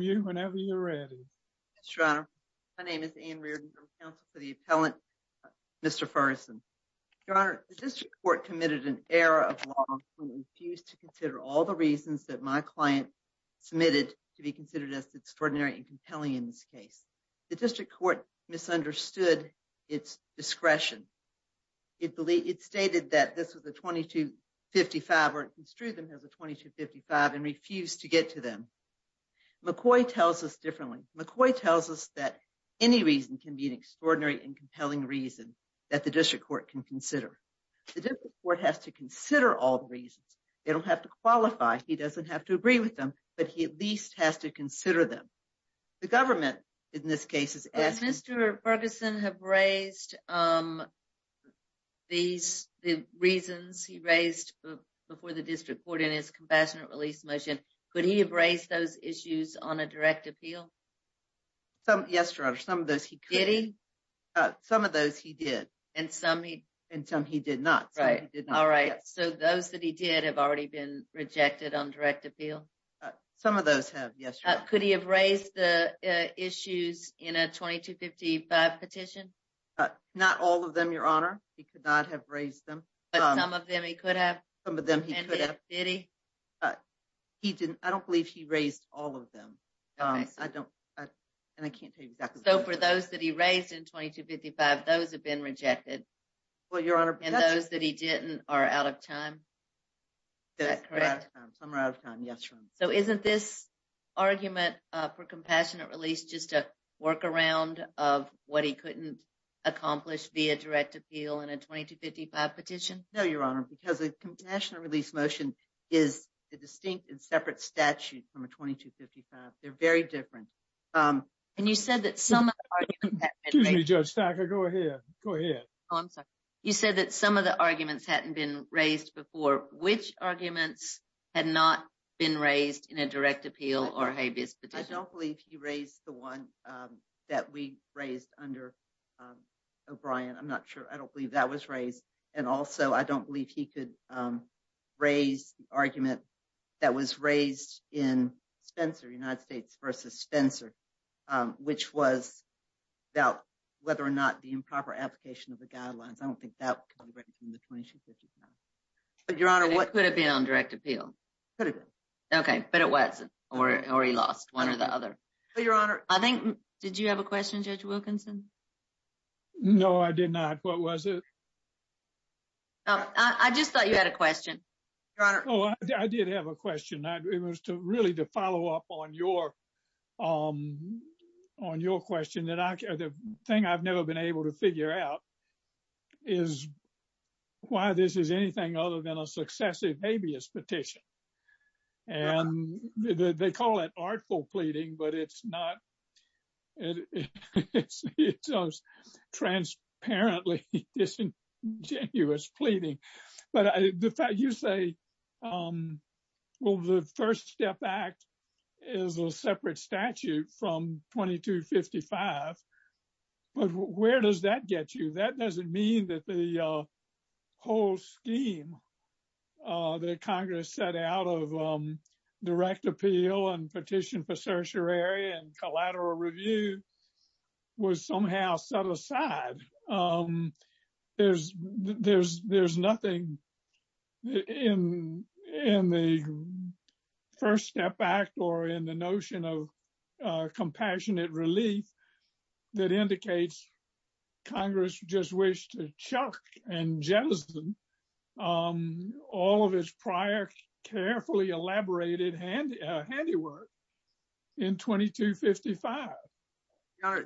you whenever you're ready. My name is Ann Reardon, counsel for the appellant, Mr. Ferguson. Your honor, the district court committed an error of law and refused to consider all the reasons that my client submitted to be considered as extraordinary and compelling in this case. The district court misunderstood its discretion. It stated that this was a 2255 or it construed them as a 2255 and refused to get to them. McCoy tells us differently. McCoy tells us that any reason can be an extraordinary and compelling reason that the district court can consider. The district court has to consider all the reasons. They don't have to qualify. He doesn't have to agree with them, but he at least has to consider them. The government in this case is asking. Mr. Ferguson have raised the reasons he raised before the district court in his compassionate release motion. Could he have raised those issues on a direct appeal? Yes, your honor. Some of those he could. Did he? Some of those he did. And some he did not. Right, all right. So those that he did have already been rejected on direct appeal? Some of those have, yes. Could he have raised the 2255 petition? Not all of them, your honor. He could not have raised them. But some of them he could have? Some of them he could have. Did he? He didn't. I don't believe he raised all of them. I don't, and I can't tell you exactly. So for those that he raised in 2255, those have been rejected? Well, your honor. And those that he didn't are out of time? That's correct. Some are out of time, yes, your honor. So isn't this argument for compassionate release just a workaround of what he couldn't accomplish via direct appeal in a 2255 petition? No, your honor, because the compassionate release motion is a distinct and separate statute from a 2255. They're very different. And you said that some of the arguments had been raised. Excuse me, Judge Stacker, go ahead. Go ahead. Oh, I'm sorry. You said that some of the arguments hadn't been raised before. Which arguments had not been raised in a direct appeal or habeas petition? I don't believe he raised the one that we raised under O'Brien. I'm not sure. I don't believe that was raised. And also, I don't believe he could raise the argument that was raised in Spencer, United States versus Spencer, which was about whether or not the improper application of the guidelines. I don't think that could be written from the 2255. But your honor, what could it be on direct appeal? Could it be? Okay, but it wasn't or he lost one or the other. Your honor, I think, did you have a question, Judge Wilkinson? No, I did not. What was it? I just thought you had a question, your honor. Oh, I did have a question. It was to really to follow up on your question the thing I've never been able to figure out is why this is anything other than a successive habeas petition. And they call it artful pleading, but it's not. It's transparently disingenuous pleading. But you say, well, the First Step Act is a separate statute from 2255. But where does that get you? That doesn't mean that the whole scheme that Congress set out of direct appeal and petition for certiorari and collateral review was somehow set aside. There's nothing in the First Step Act or in the notion of compassionate relief that indicates Congress just wished to chuck and jettison all of his prior carefully elaborated handiwork in 2255.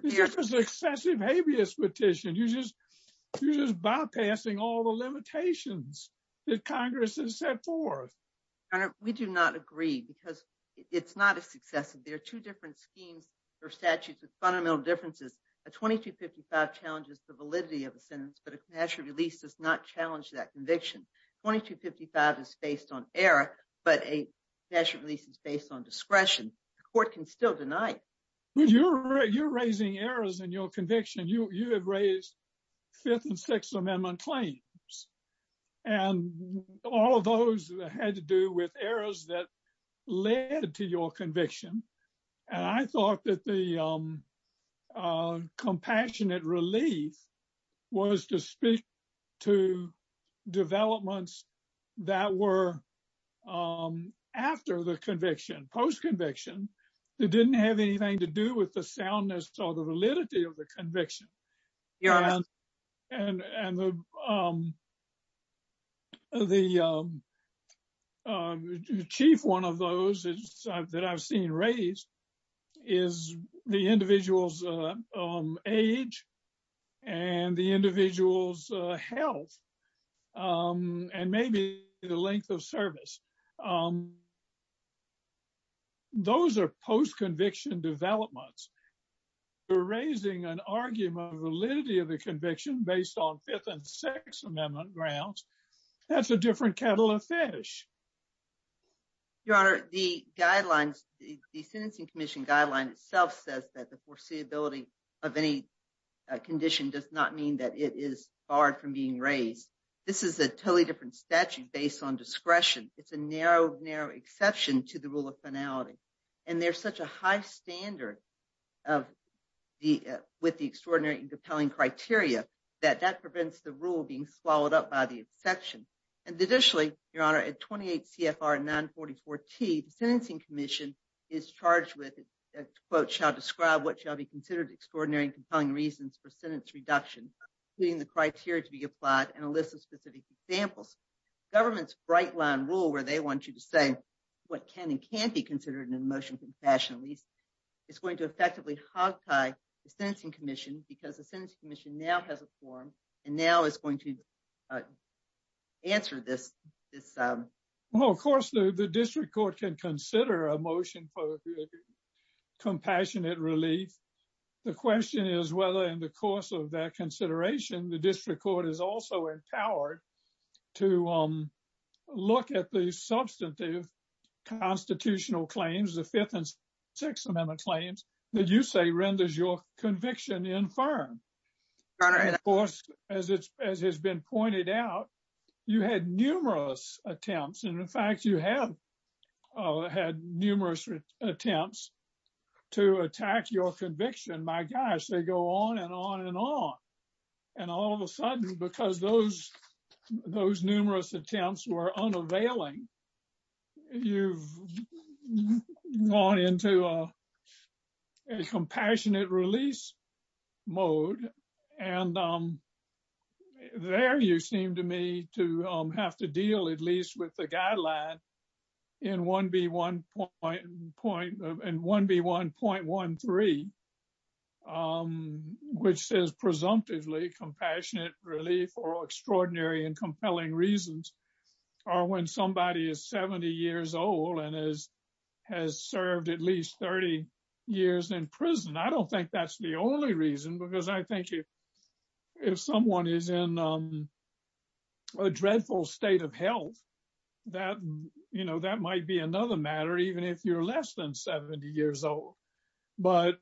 It's just an excessive habeas petition. You're just bypassing all the limitations that Congress has set forth. Your honor, we do not agree because it's not a successive. There are two different schemes or statutes with fundamental differences. A 2255 challenges the validity of a sentence, but a compassionate release does not challenge that conviction. 2255 is based on error, but a compassionate release is based on discretion. The court can still deny it. You're raising errors in your conviction. You have raised Fifth and Sixth and I thought that the compassionate relief was to speak to developments that were after the conviction, post-conviction, that didn't have anything to do with the soundness or the validity of the conviction. The chief one of those that I've seen raised is the individual's age and the individual's health and maybe the length of service. Those are post-conviction developments. You're raising an argument of validity of the conviction based on Fifth and Sixth Amendment grounds. That's a different kettle of fish. Your honor, the sentencing commission guideline itself says that the foreseeability of any condition does not mean that it is barred from being raised. This is a totally statute based on discretion. It's a narrow exception to the rule of finality. There's such a high standard with the extraordinary and compelling criteria that that prevents the rule being swallowed up by the exception. Additionally, your honor, at 28 CFR 944T, the sentencing commission is charged with, quote, shall describe what shall be considered extraordinary and compelling reasons for sentence reduction, including the criteria to be applied and a specific example. Government's bright line rule where they want you to say what can and can't be considered in a motion of confession is going to effectively hogtie the sentencing commission because the sentencing commission now has a forum and now is going to answer this. Well, of course, the district court can consider a motion for compassionate relief. The question is whether in the course of that consideration, the district court is also empowered to look at the substantive constitutional claims, the Fifth and Sixth Amendment claims that you say renders your conviction infirm. Of course, as it's as has been pointed out, you had numerous attempts and in fact, you have had numerous attempts to attack your conviction. My gosh, they go on and on and on. And all of a sudden, because those numerous attempts were unavailing, you've gone into a compassionate release mode and there you seem to me to have to deal at least with the guideline in 1B1.13, which says presumptively compassionate relief or extraordinary and compelling reasons are when somebody is 70 years old and has served at least 30 years in prison. I don't think that's the only reason because I think if someone is in a dreadful state of health, that might be another matter even if you're less than 70 years old. But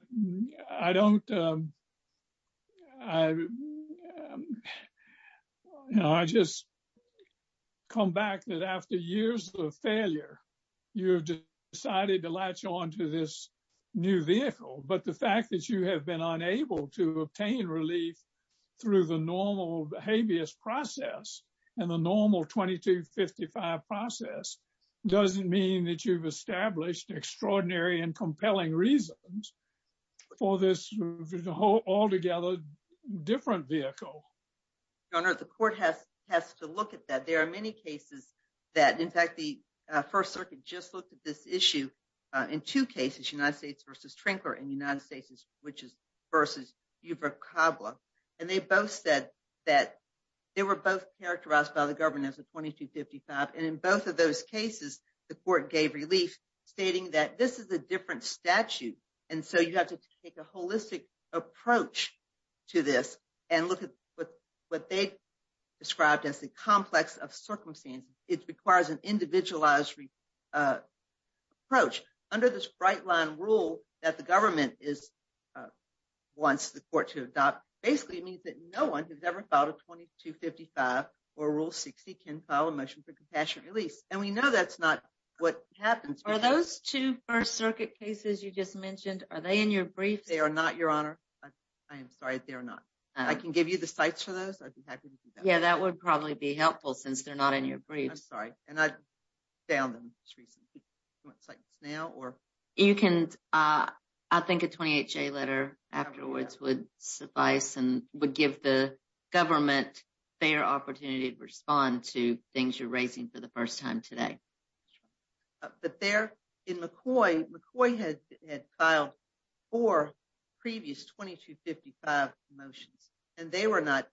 I just come back that after years of failure, you decided to latch on to this new vehicle. But the fact that you have been unable to obtain relief through the normal habeas process and the normal 2255 process doesn't mean that you've established extraordinary and compelling reasons for this altogether different vehicle. Your Honor, the court has to look at that. There are many cases that, in fact, the First Circuit just looked at this issue in two cases, United States versus Trinkler and the United States which is versus Buford-Cobbler. And they both said that they were both characterized by the government as a 2255. And in both of those cases, the court gave relief stating that this is a different statute. And so you have to take a holistic approach to this and look at what they described as the complex of circumstances. It requires an individualized approach. Under this bright line rule that the government wants the court to adopt, basically it means that no one who's ever filed a 2255 or Rule 60 can file a motion for compassionate release. And we know that's not what happens. Are those two First Circuit cases you just mentioned, are they in your briefs? They are not, Your Honor. I am sorry, they are not. I can give you the sites for those. I'd be happy to do that. Yeah, that would probably be helpful since they're not in your briefs. Sorry. And I found them just recently. Do you want to cite this now or? You can. I think a 28-J letter afterwards would suffice and would give the government fair opportunity to respond to things you're raising for the first time today. But there in McCoy, McCoy had filed four previous 2255 motions and they were not,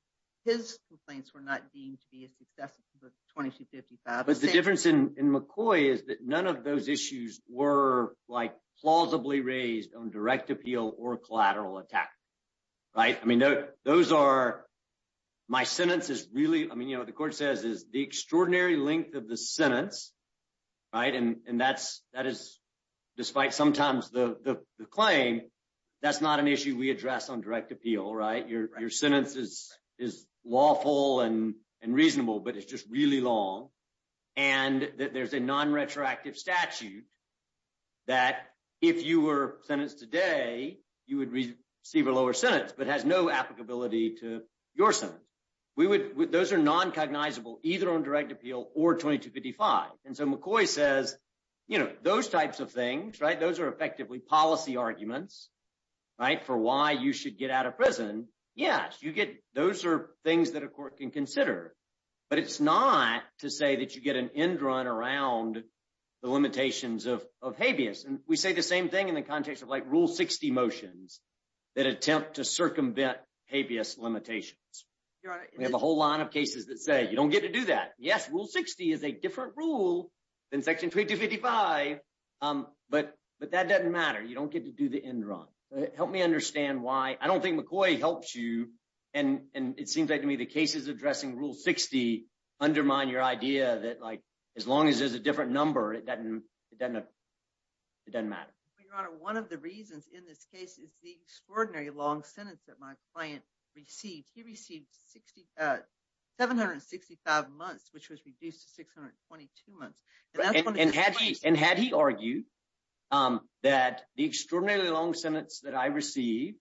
his complaints were not deemed to be a success of the 2255. But the difference in McCoy is that none of those issues were like plausibly raised on direct appeal or collateral attack, right? I mean, those are, my sentence is really, I mean, you know, the court says is the extraordinary length of the sentence, right? And that is, despite sometimes the claim, that's not an issue we address on direct appeal, right? Your sentence is lawful and reasonable, but it's just really long. And there's a non-retroactive statute that if you were sentenced today, you would receive a lower sentence, but has no applicability to your sentence. We would, those are non-cognizable either on direct appeal or 2255. And so McCoy says, you know, those types of things, right? For why you should get out of prison. Yes, you get, those are things that a court can consider, but it's not to say that you get an end run around the limitations of habeas. And we say the same thing in the context of like rule 60 motions that attempt to circumvent habeas limitations. We have a whole line of cases that say you don't get to do that. Yes, rule 60 is a different rule than section 2255, but that doesn't matter. You don't get to do the end run. Help me understand why. I don't think McCoy helps you. And it seems like to me, the cases addressing rule 60 undermine your idea that like, as long as there's a different number, it doesn't matter. Your honor, one of the reasons in this case is the extraordinary long sentence that my client received. He received 765 months, which was reduced to 622 months. And had he argued that the extraordinarily long sentence that I received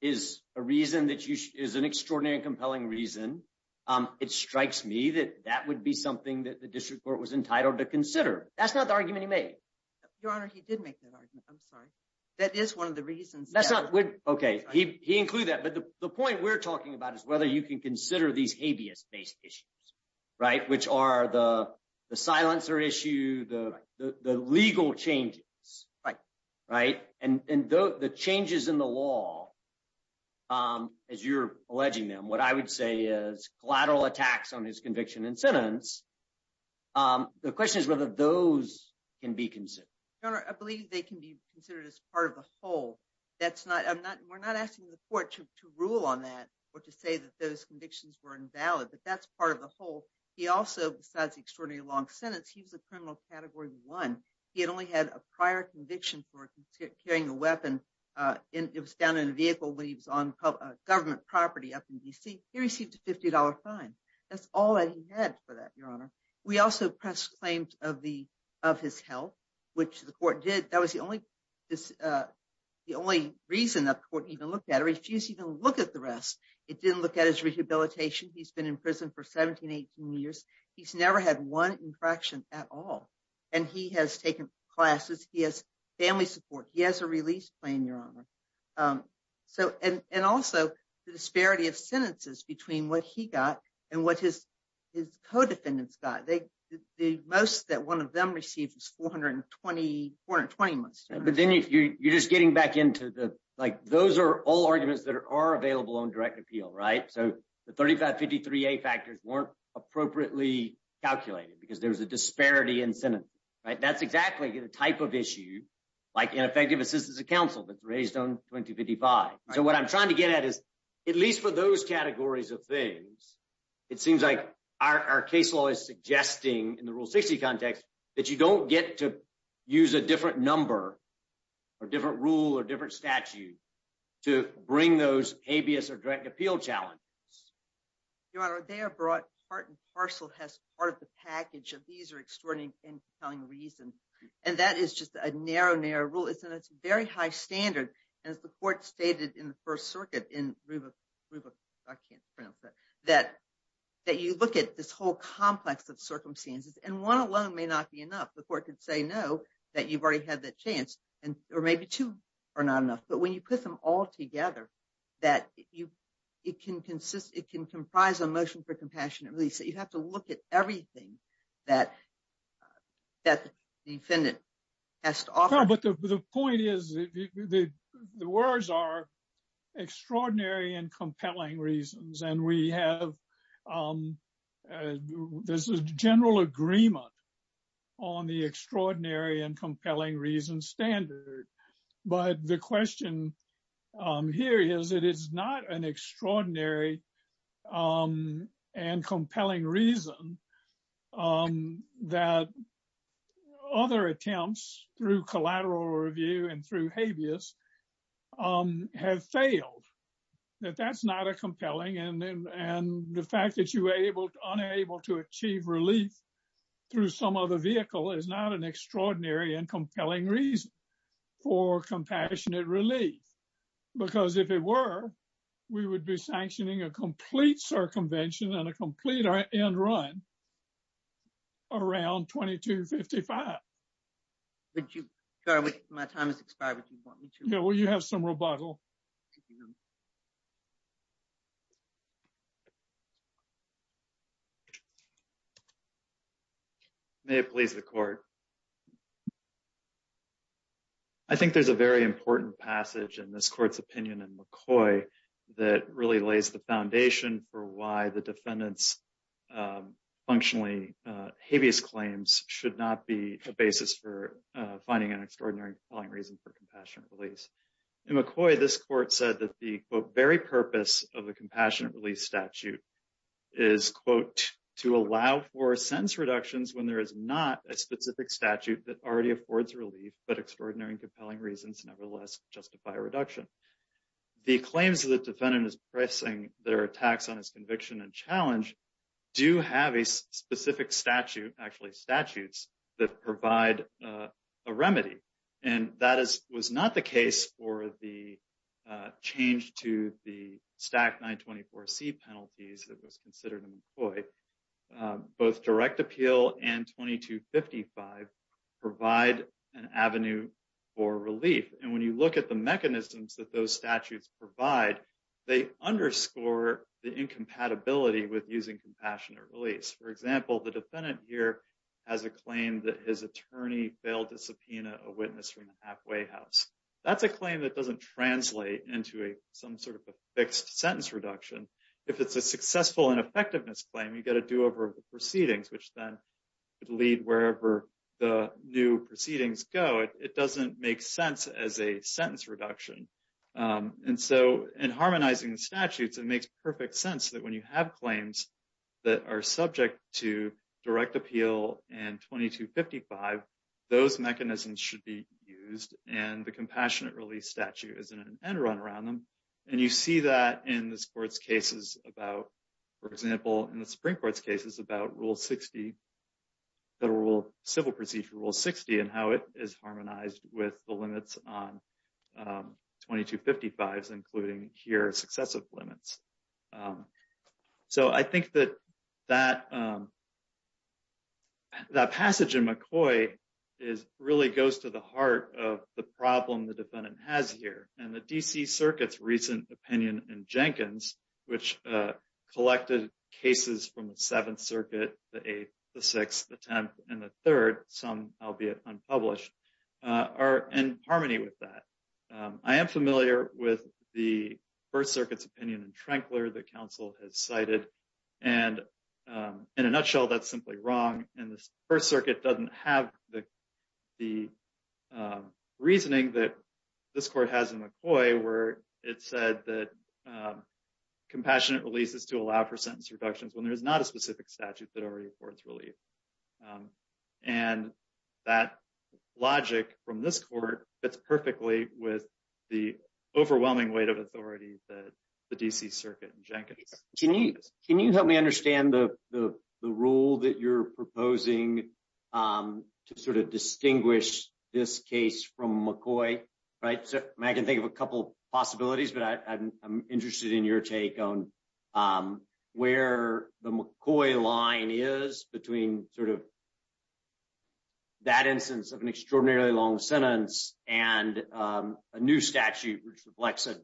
is a reason that you, is an extraordinary and compelling reason. It strikes me that that would be something that the district court was entitled to consider. That's not the argument he made. Your honor, he did make that argument. I'm sorry. That is one of the reasons. That's not, okay. He, he included that, but the point we're talking about is whether you can consider these habeas based issues, right? Which are the silencer issue, the legal changes, right? And the changes in the law, as you're alleging them, what I would say is collateral attacks on his conviction and sentence. The question is whether those can be considered. Your honor, I believe they can be considered as part of the whole. That's not, I'm not, we're not asking the court to rule on that or to say that those convictions were invalid, but that's part of the whole. He also, besides the extraordinary long sentence, he was a criminal category one. He had only had a prior conviction for carrying a weapon. It was down in a vehicle when he was on government property up in DC. He received a $50 fine. That's all that he had for that, your honor. We also pressed claims of the, of his health, which the court did. That was the only, the only reason that the court even looked at it, refused to even look at the rest. It didn't look at his rehabilitation. He's been in prison for 17, 18 years. He's never had one infraction at all. And he has taken classes. He has family support. He has a release plan, your honor. So, and also the disparity of sentences between what he got and what his co-defendants got. The most that one of them received was 420 months. But then if you're just getting back into the, like, those are all arguments that are available on direct appeal, right? So the 3553A factors weren't appropriately calculated because there was a disparity in sentence, right? That's exactly the type of issue, like ineffective assistance of counsel that's raised on 2255. So what I'm trying to get at is at least for those categories of things, it seems like our case law is suggesting in the rule 60 context, that you don't get to use a different number or different rule or different statute to bring those habeas or direct appeal challenges. Your honor, they are brought part and parcel has part of the package of these are extraordinary compelling reason. And that is just a narrow, narrow rule. It's a very high standard as the court stated in the first circuit in Ruba, Ruba, I can't pronounce that, that you look at this whole complex of circumstances and one alone may not be enough. The court could say, no, that you've already had that chance and, or maybe two are not enough. But when you put them all together, that you, it can consist, it can comprise a motion for compassionate release. You have to look at everything that the defendant has to offer. But the point is, the words are extraordinary and compelling reasons. And we have, there's a general agreement on the extraordinary and compelling reason standard. But the question here is, it is not an extraordinary and compelling reason that other attempts through collateral review and through habeas have failed. That that's not a compelling and the fact that you were able, unable to achieve relief through some other vehicle is not an extraordinary and compelling reason for compassionate relief. Because if it were, we would be sanctioning a complete circumvention and a complete end run around 2255. Would you, sorry, my time has expired. Would you want me to? Yeah, well, you have some rebuttal. May it please the court. I think there's a very important passage in this court's opinion in McCoy that really lays the foundation for why the defendant's functionally habeas claims should not be a basis for finding an extraordinary reason for compassionate release. In McCoy, this court said that the very purpose of the compassionate release statute is, quote, to allow for sentence reductions when there is not a specific statute that already affords relief, but extraordinary and compelling reasons, nevertheless, justify a reduction. The claims of the defendant is pressing their attacks on his conviction and challenge do have a specific statute, actually statutes that provide a remedy. And that is, was not the case for the change to the stack 924C penalties that was considered in McCoy. Both direct appeal and 2255 provide an avenue for relief. And when you look at the mechanisms that those statutes provide, they underscore the incompatibility with using compassionate release. For example, the defendant here has a claim that his attorney failed to subpoena a witness from the halfway house. That's a claim that doesn't translate into a, some sort of a fixed sentence reduction. If it's a successful and effectiveness claim, you've got to do over proceedings, which then lead wherever the new proceedings go. It doesn't make sense as a sentence reduction. And so in harmonizing the statutes, it makes perfect sense that when you have claims that are subject to direct appeal and 2255, those mechanisms should be used. And the compassionate release statute isn't an end run around them. And you see that in the sports cases about, for example, in the Supreme court's cases about rule 60, the rule civil procedure rule 60, and how it is harmonized with the limits on 2255, including here, successive limits. Um, so I think that that, um, that passage in McCoy is really goes to the heart of the problem the defendant has here. And the DC circuits recent opinion in Jenkins, which, uh, collected cases from the seventh circuit, the eighth, the sixth attempt, and the third, some, albeit unpublished, are in harmony with that. Um, I am familiar with the first circuit's opinion in Tranquill, the council has cited, and, um, in a nutshell, that's simply wrong. And this first circuit doesn't have the, the, um, reasoning that this court has in McCoy where it said that, um, compassionate releases to allow for sentence reductions when there's not a specific statute that already reports relief. Um, and that logic from this court fits perfectly with the overwhelming weight of authority that the DC circuit in Jenkins. Can you, can you help me understand the, the, the rule that you're proposing, um, to sort of distinguish this case from McCoy, right? So I can think of a couple of possibilities, but I, I'm interested in your take on, um, where the McCoy line is between sort of that instance of an extraordinarily long sentence and, um, a new statute which reflects a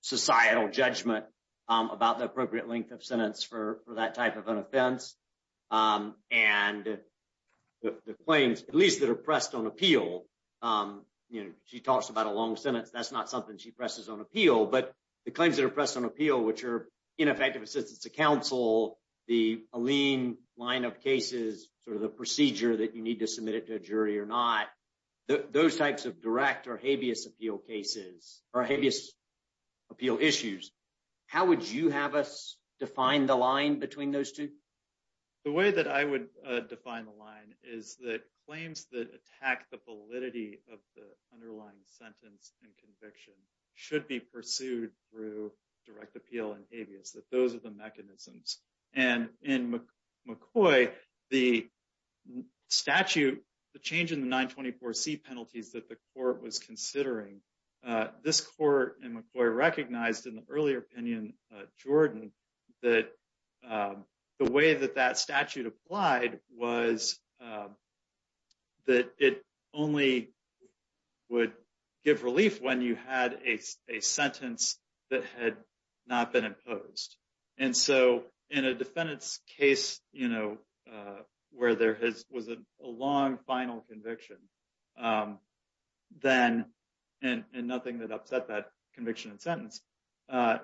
societal judgment, um, about the appropriate length of sentence for, for that type of an offense. Um, and the, the claims, at least that are pressed on appeal, um, you know, she talks about a long sentence, that's not something she ineffective assistance to counsel, the lean line of cases, sort of the procedure that you need to submit it to a jury or not, those types of direct or habeas appeal cases are habeas appeal issues. How would you have us define the line between those two? The way that I would, uh, define the line is that claims that attack the validity of the those are the mechanisms. And in McCoy, the statute, the change in the 924C penalties that the court was considering, uh, this court in McCoy recognized in the earlier opinion, uh, Jordan, that, um, the way that that statute applied was, um, that it only would give relief when you had a sentence that had not been imposed. And so in a defendant's case, you know, where there has, was a long final conviction, um, then, and nothing that upset that conviction and sentence, uh,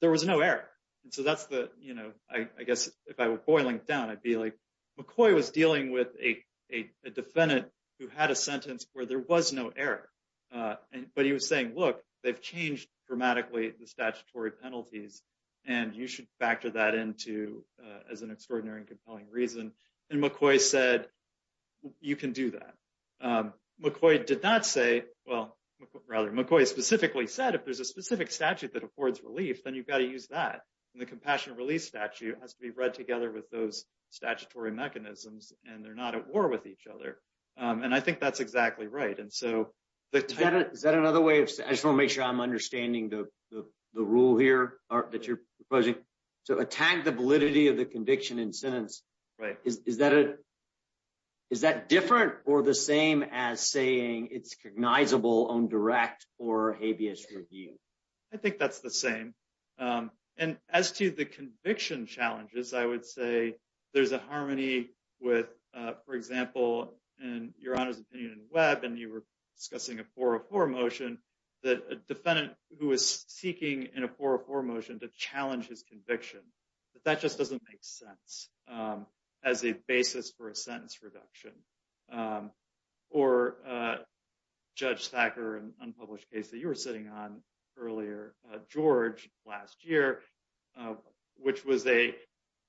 there was no error. And so that's the, you know, I guess if I were boiling down, I'd be like, McCoy was dealing with a defendant who had a sentence where there was no error. Uh, and, but he was saying, look, they've changed dramatically the statutory penalties, and you should factor that into, uh, as an extraordinary and compelling reason. And McCoy said, you can do that. Um, McCoy did not say, well, rather, McCoy specifically said, if there's a specific statute that affords relief, then you've got to use that. And the compassionate release statute has to be read together with those statutory mechanisms, and they're not at war with each other. Um, and I think that's exactly right. And so is that another way of, I just want to make sure I'm understanding the, the, the rule here or that you're proposing to attack the validity of the conviction and sentence, right? Is, is that a, is that different or the same as saying it's cognizable on direct or habeas review? I think that's the same. Um, and as to the conviction challenges, I would say there's a harmony with, uh, for example, and your honor's opinion in web, and you were discussing a 404 motion that a defendant who is seeking in a 404 motion to challenge his conviction, that that just doesn't make sense, um, as a basis for a sentence reduction, um, or, uh, judge Thacker and unpublished case that you were sitting on earlier, uh, George last year, uh, which was a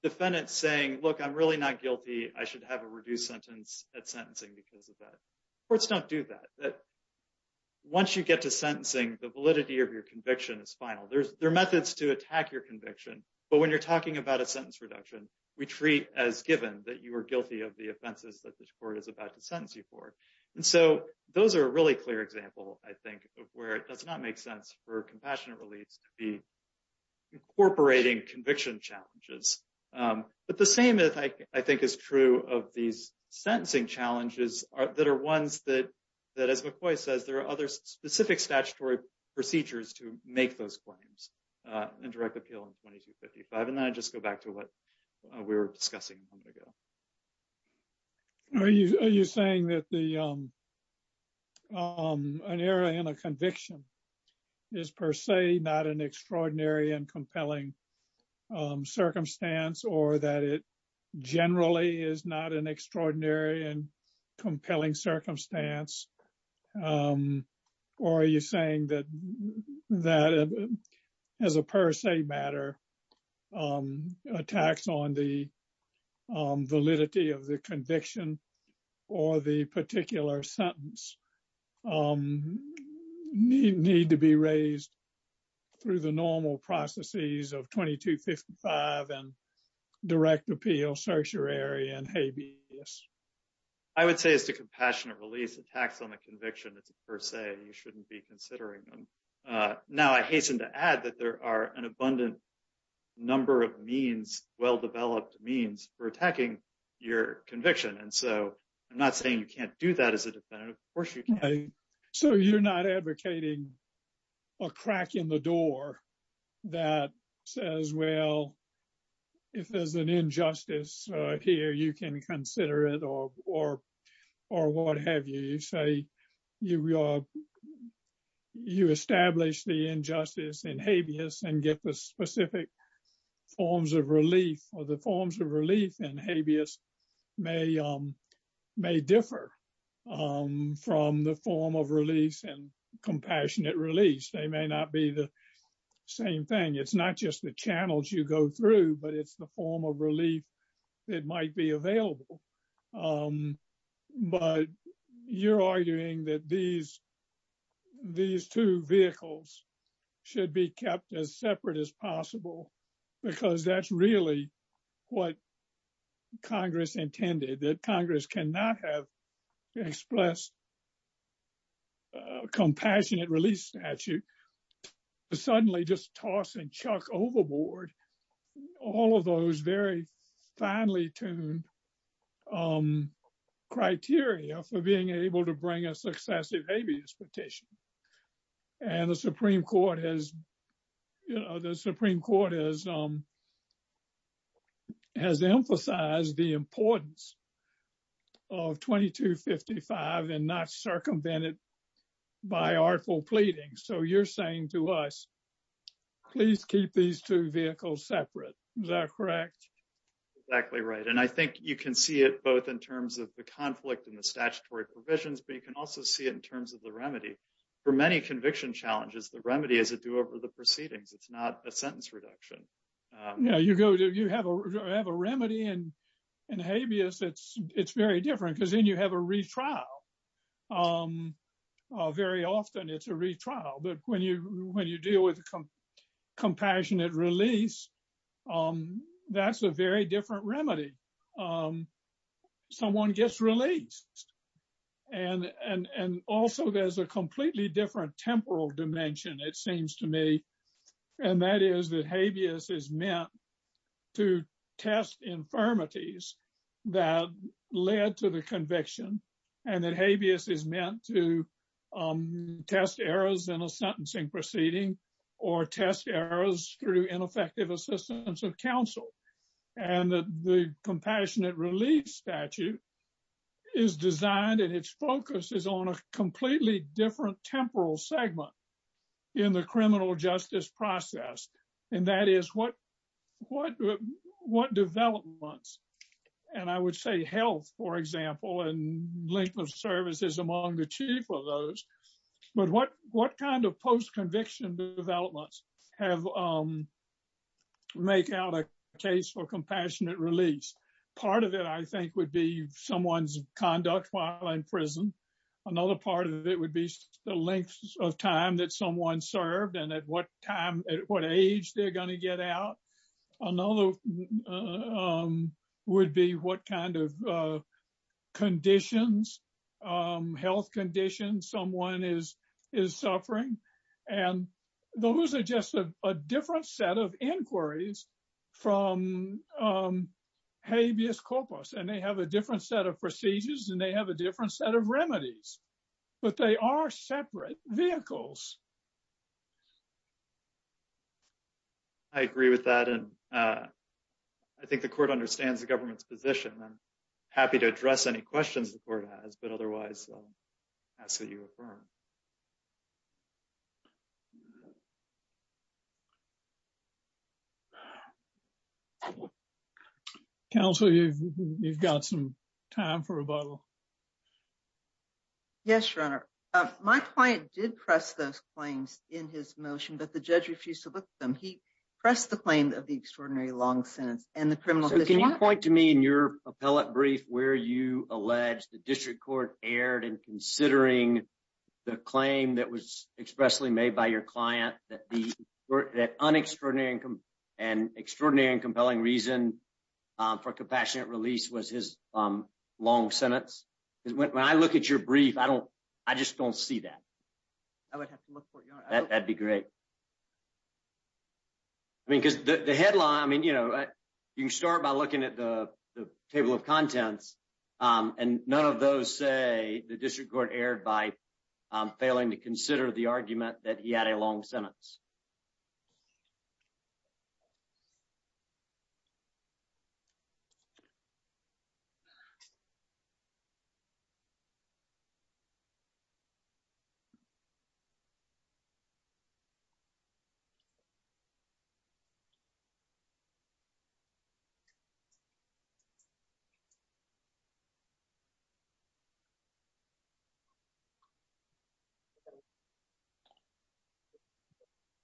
defendant saying, look, I'm really not guilty. I should have a reduced sentence at sentencing because of that. Courts don't do that. That once you get to sentencing, the validity of your conviction is final. There's, there are methods to attack your conviction, but when you're talking about a sentence reduction, we treat as given that you were guilty of the offenses that this court is about to sentence you for. And so those are a really clear example, I think, of where it does not make sense for compassionate reliefs to be incorporating conviction challenges. Um, but the same as I, I think is true of these sentencing challenges that are ones that, that as McCoy says, there are other specific statutory procedures to make those claims, uh, and direct appeal in 2255. And then I just go back to what we were discussing a moment ago. Are you, are you saying that the, um, um, an error in a conviction is per se not an extraordinary and compelling, um, circumstance or that it generally is not an extraordinary and compelling circumstance? Um, or are you saying that, that as a per se matter, um, attacks on the, um, validity of the conviction or the particular sentence, um, need to be raised through the normal processes of 2255 and direct appeal, certiorari, and habeas? I would say as to compassionate release attacks on the conviction, it's per se, you shouldn't be considering them. Uh, now I hasten to add that there are an abundant number of means, well-developed means for attacking your conviction. And so I'm not saying you can't do that as a defendant. Of course you can. So you're not advocating a crack in the door that says, well, if there's an injustice, uh, here, you can consider it or, or, or what have you. You say you, uh, you establish the injustice and habeas and get the specific forms of relief or the forms of relief and habeas may, um, may differ, um, from the form of release and same thing. It's not just the channels you go through, but it's the form of relief that might be available. Um, but you're arguing that these, these two vehicles should be kept as separate as possible because that's really what Congress intended, that Congress cannot have expressed, uh, compassionate release statute to suddenly just toss and chuck overboard all of those very finely tuned, um, criteria for being able to bring a successive habeas petition. And the Supreme Court has, you know, the Supreme Court has, um, has emphasized the importance of 2255 and not circumvented by artful pleading. So you're saying to us, please keep these two vehicles separate. Is that correct? Exactly right. And I think you can see it both in terms of the conflict and the statutory provisions, but you can also see it in terms of the remedy for many conviction challenges. The remedy is a do over the proceedings. It's not a sentence reduction. Yeah, you go to, you have a, have a remedy and, and habeas it's, it's very different because then you have a retrial. Um, uh, very often it's a retrial, but when you, when you deal with compassionate release, um, that's a very different remedy. Um, someone gets released and, and, and also there's a completely different temporal dimension, it seems to me. And that is that habeas is meant to test infirmities that led to the conviction and that habeas is meant to, um, test errors in a sentencing proceeding or test errors through ineffective assistance of counsel. And the compassionate release statute is designed and its focus is on a completely different temporal segment in the criminal justice process. And that is what, what, what developments, and I would say health, for example, and length of services among the chief of those, but what, what kind of post conviction developments have, um, make out a case for someone's conduct while in prison. Another part of it would be the length of time that someone served and at what time, at what age they're going to get out. Another, um, would be what kind of, uh, conditions, um, health conditions someone is, is suffering. And those are just a different set of inquiries from, um, habeas corpus, and they have a different set of procedures and they have a different set of remedies, but they are separate vehicles. I agree with that. And, uh, I think the court understands the government's position. I'm happy to address any questions the court has, but otherwise, uh, ask that you affirm. Counsel, you've, you've got some time for rebuttal. Yes, Your Honor. Uh, my client did press those claims in his motion, but the judge refused to look at them. He pressed the claim of the extraordinary long sentence and the criminal Can you point to me in your appellate brief where you allege the district court erred in considering the claim that was expressly made by your client that the, that un-extraordinary and, and extraordinary and compelling reason, um, for compassionate release was his, um, long sentence? Because when I look at your brief, I don't, I just don't see that. I would have to look for it, Your Honor. That'd be great. I mean, because the, the headline, I mean, you know, you can start by looking at the, the table of contents, um, and none of those say the district court erred by, um, failing to consider the argument that he had a long sentence.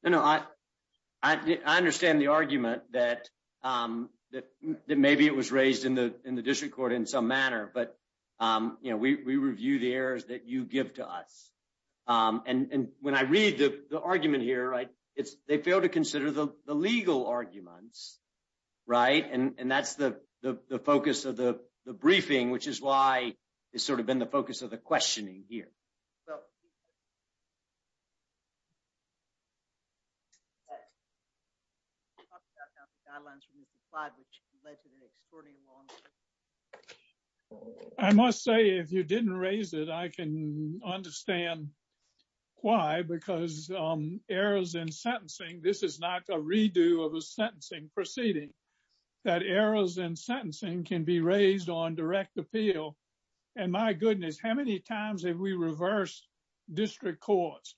No, no, I, I, I understand the argument that, um, that, that maybe it was raised in the, in the district court in some manner, but, um, you know, we, we review the errors that you give to us. Um, and, and when I read the, the argument here, right, it's, they fail to consider the, the legal arguments, right? And, and that's the, the, the focus of the, the briefing, which is why it's sort of been the focus of the questioning here. I must say, if you didn't raise it, I can understand why, because, um, errors in sentencing, this is not a redo of a sentencing proceeding, that errors in sentencing can be raised on direct appeal. And my goodness, how many times have we reversed district courts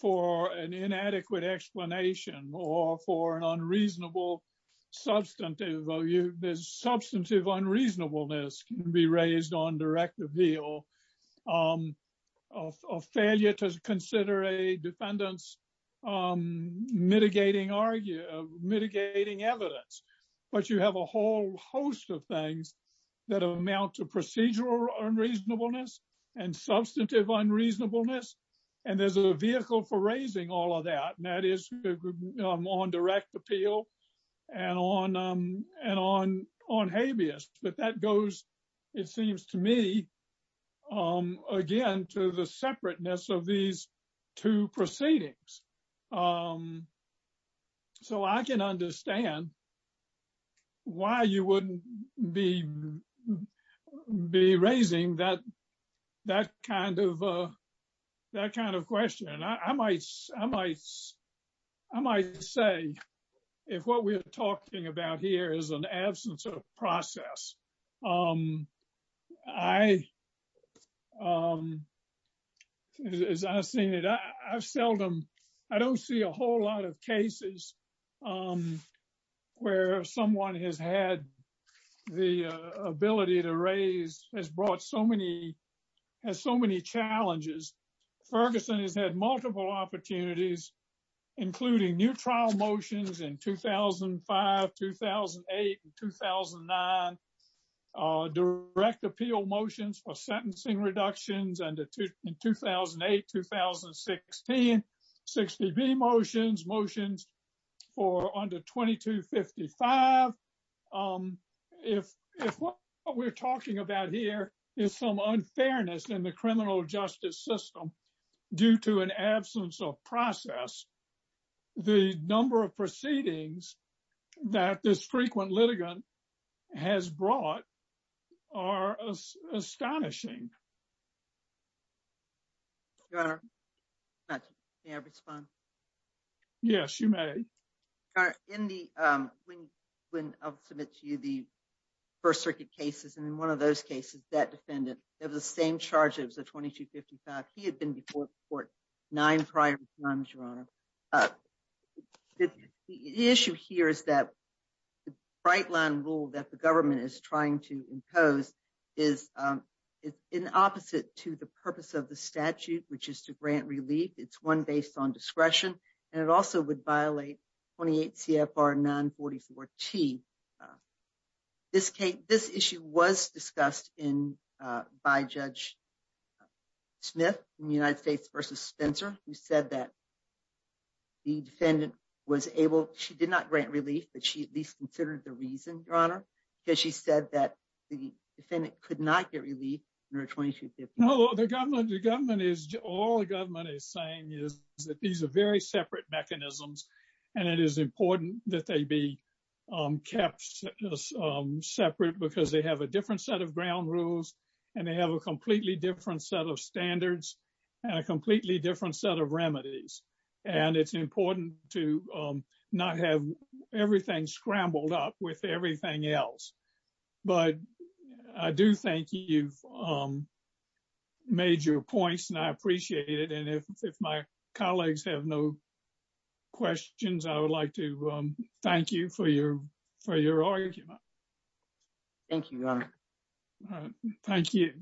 for an inadequate explanation or for an unreasonable substantive, there's substantive unreasonableness can be raised on direct appeal, um, of, of failure to consider a defendant's, um, mitigating argument, mitigating evidence, but you have a whole host of things that amount to procedural unreasonableness and substantive unreasonableness. And there's a vehicle for raising all of that. And that is on direct appeal and on, um, and on, on habeas, but that goes, it seems to me, um, again, to the separateness of these two proceedings. Um, so I can understand why you wouldn't be, be raising that, that kind of, uh, that kind of question. And I might, I might, I might say, if what we're talking about here is an absence of process, um, I, um, as I've seen it, I've seldom, I don't see a whole lot of cases, um, where someone has had the ability to raise, has brought so many, has so many challenges. Ferguson has had multiple opportunities, including new trial motions in 2005, 2008, and 2009, uh, direct appeal motions for sentencing reductions and in 2008, 2016, 60B motions, motions for under 2255. Um, if, if what we're talking about here is some unfairness in the criminal justice system due to an absence of process, the number of proceedings that this frequent litigant has brought are astonishing. Your Honor, may I respond? Yes, you may. Your Honor, in the, um, when, when I'll submit to you the First Circuit cases, and in one of those cases, that defendant had the same charges of 2255. He had been before nine prior times, Your Honor. Uh, the issue here is that the bright line rule that the government is trying to impose is, um, it's in opposite to the purpose of the statute, which is to grant relief. It's one based on discretion, and it also would violate 28 CFR 944T. Uh, this case, this issue was discussed in, uh, by Judge Smith in the United States versus Spencer, who said that the defendant was able, she did not grant relief, but she at least considered the reason, Your Honor, because she said that the defendant could not get relief under 2255. No, the government, the government is, all the government is saying is that these are very separate mechanisms, and it is important that they be, um, kept, um, separate because they have a different set of ground rules, and they have a completely different set of standards, and a completely different set of remedies, and it's important to, um, not have everything scrambled up with everything else, but I do think you've, um, made your points, and I appreciate it, and if my colleagues have no questions, I would like to, um, thank you for your, for your argument. Thank you, Your Honor. Thank you.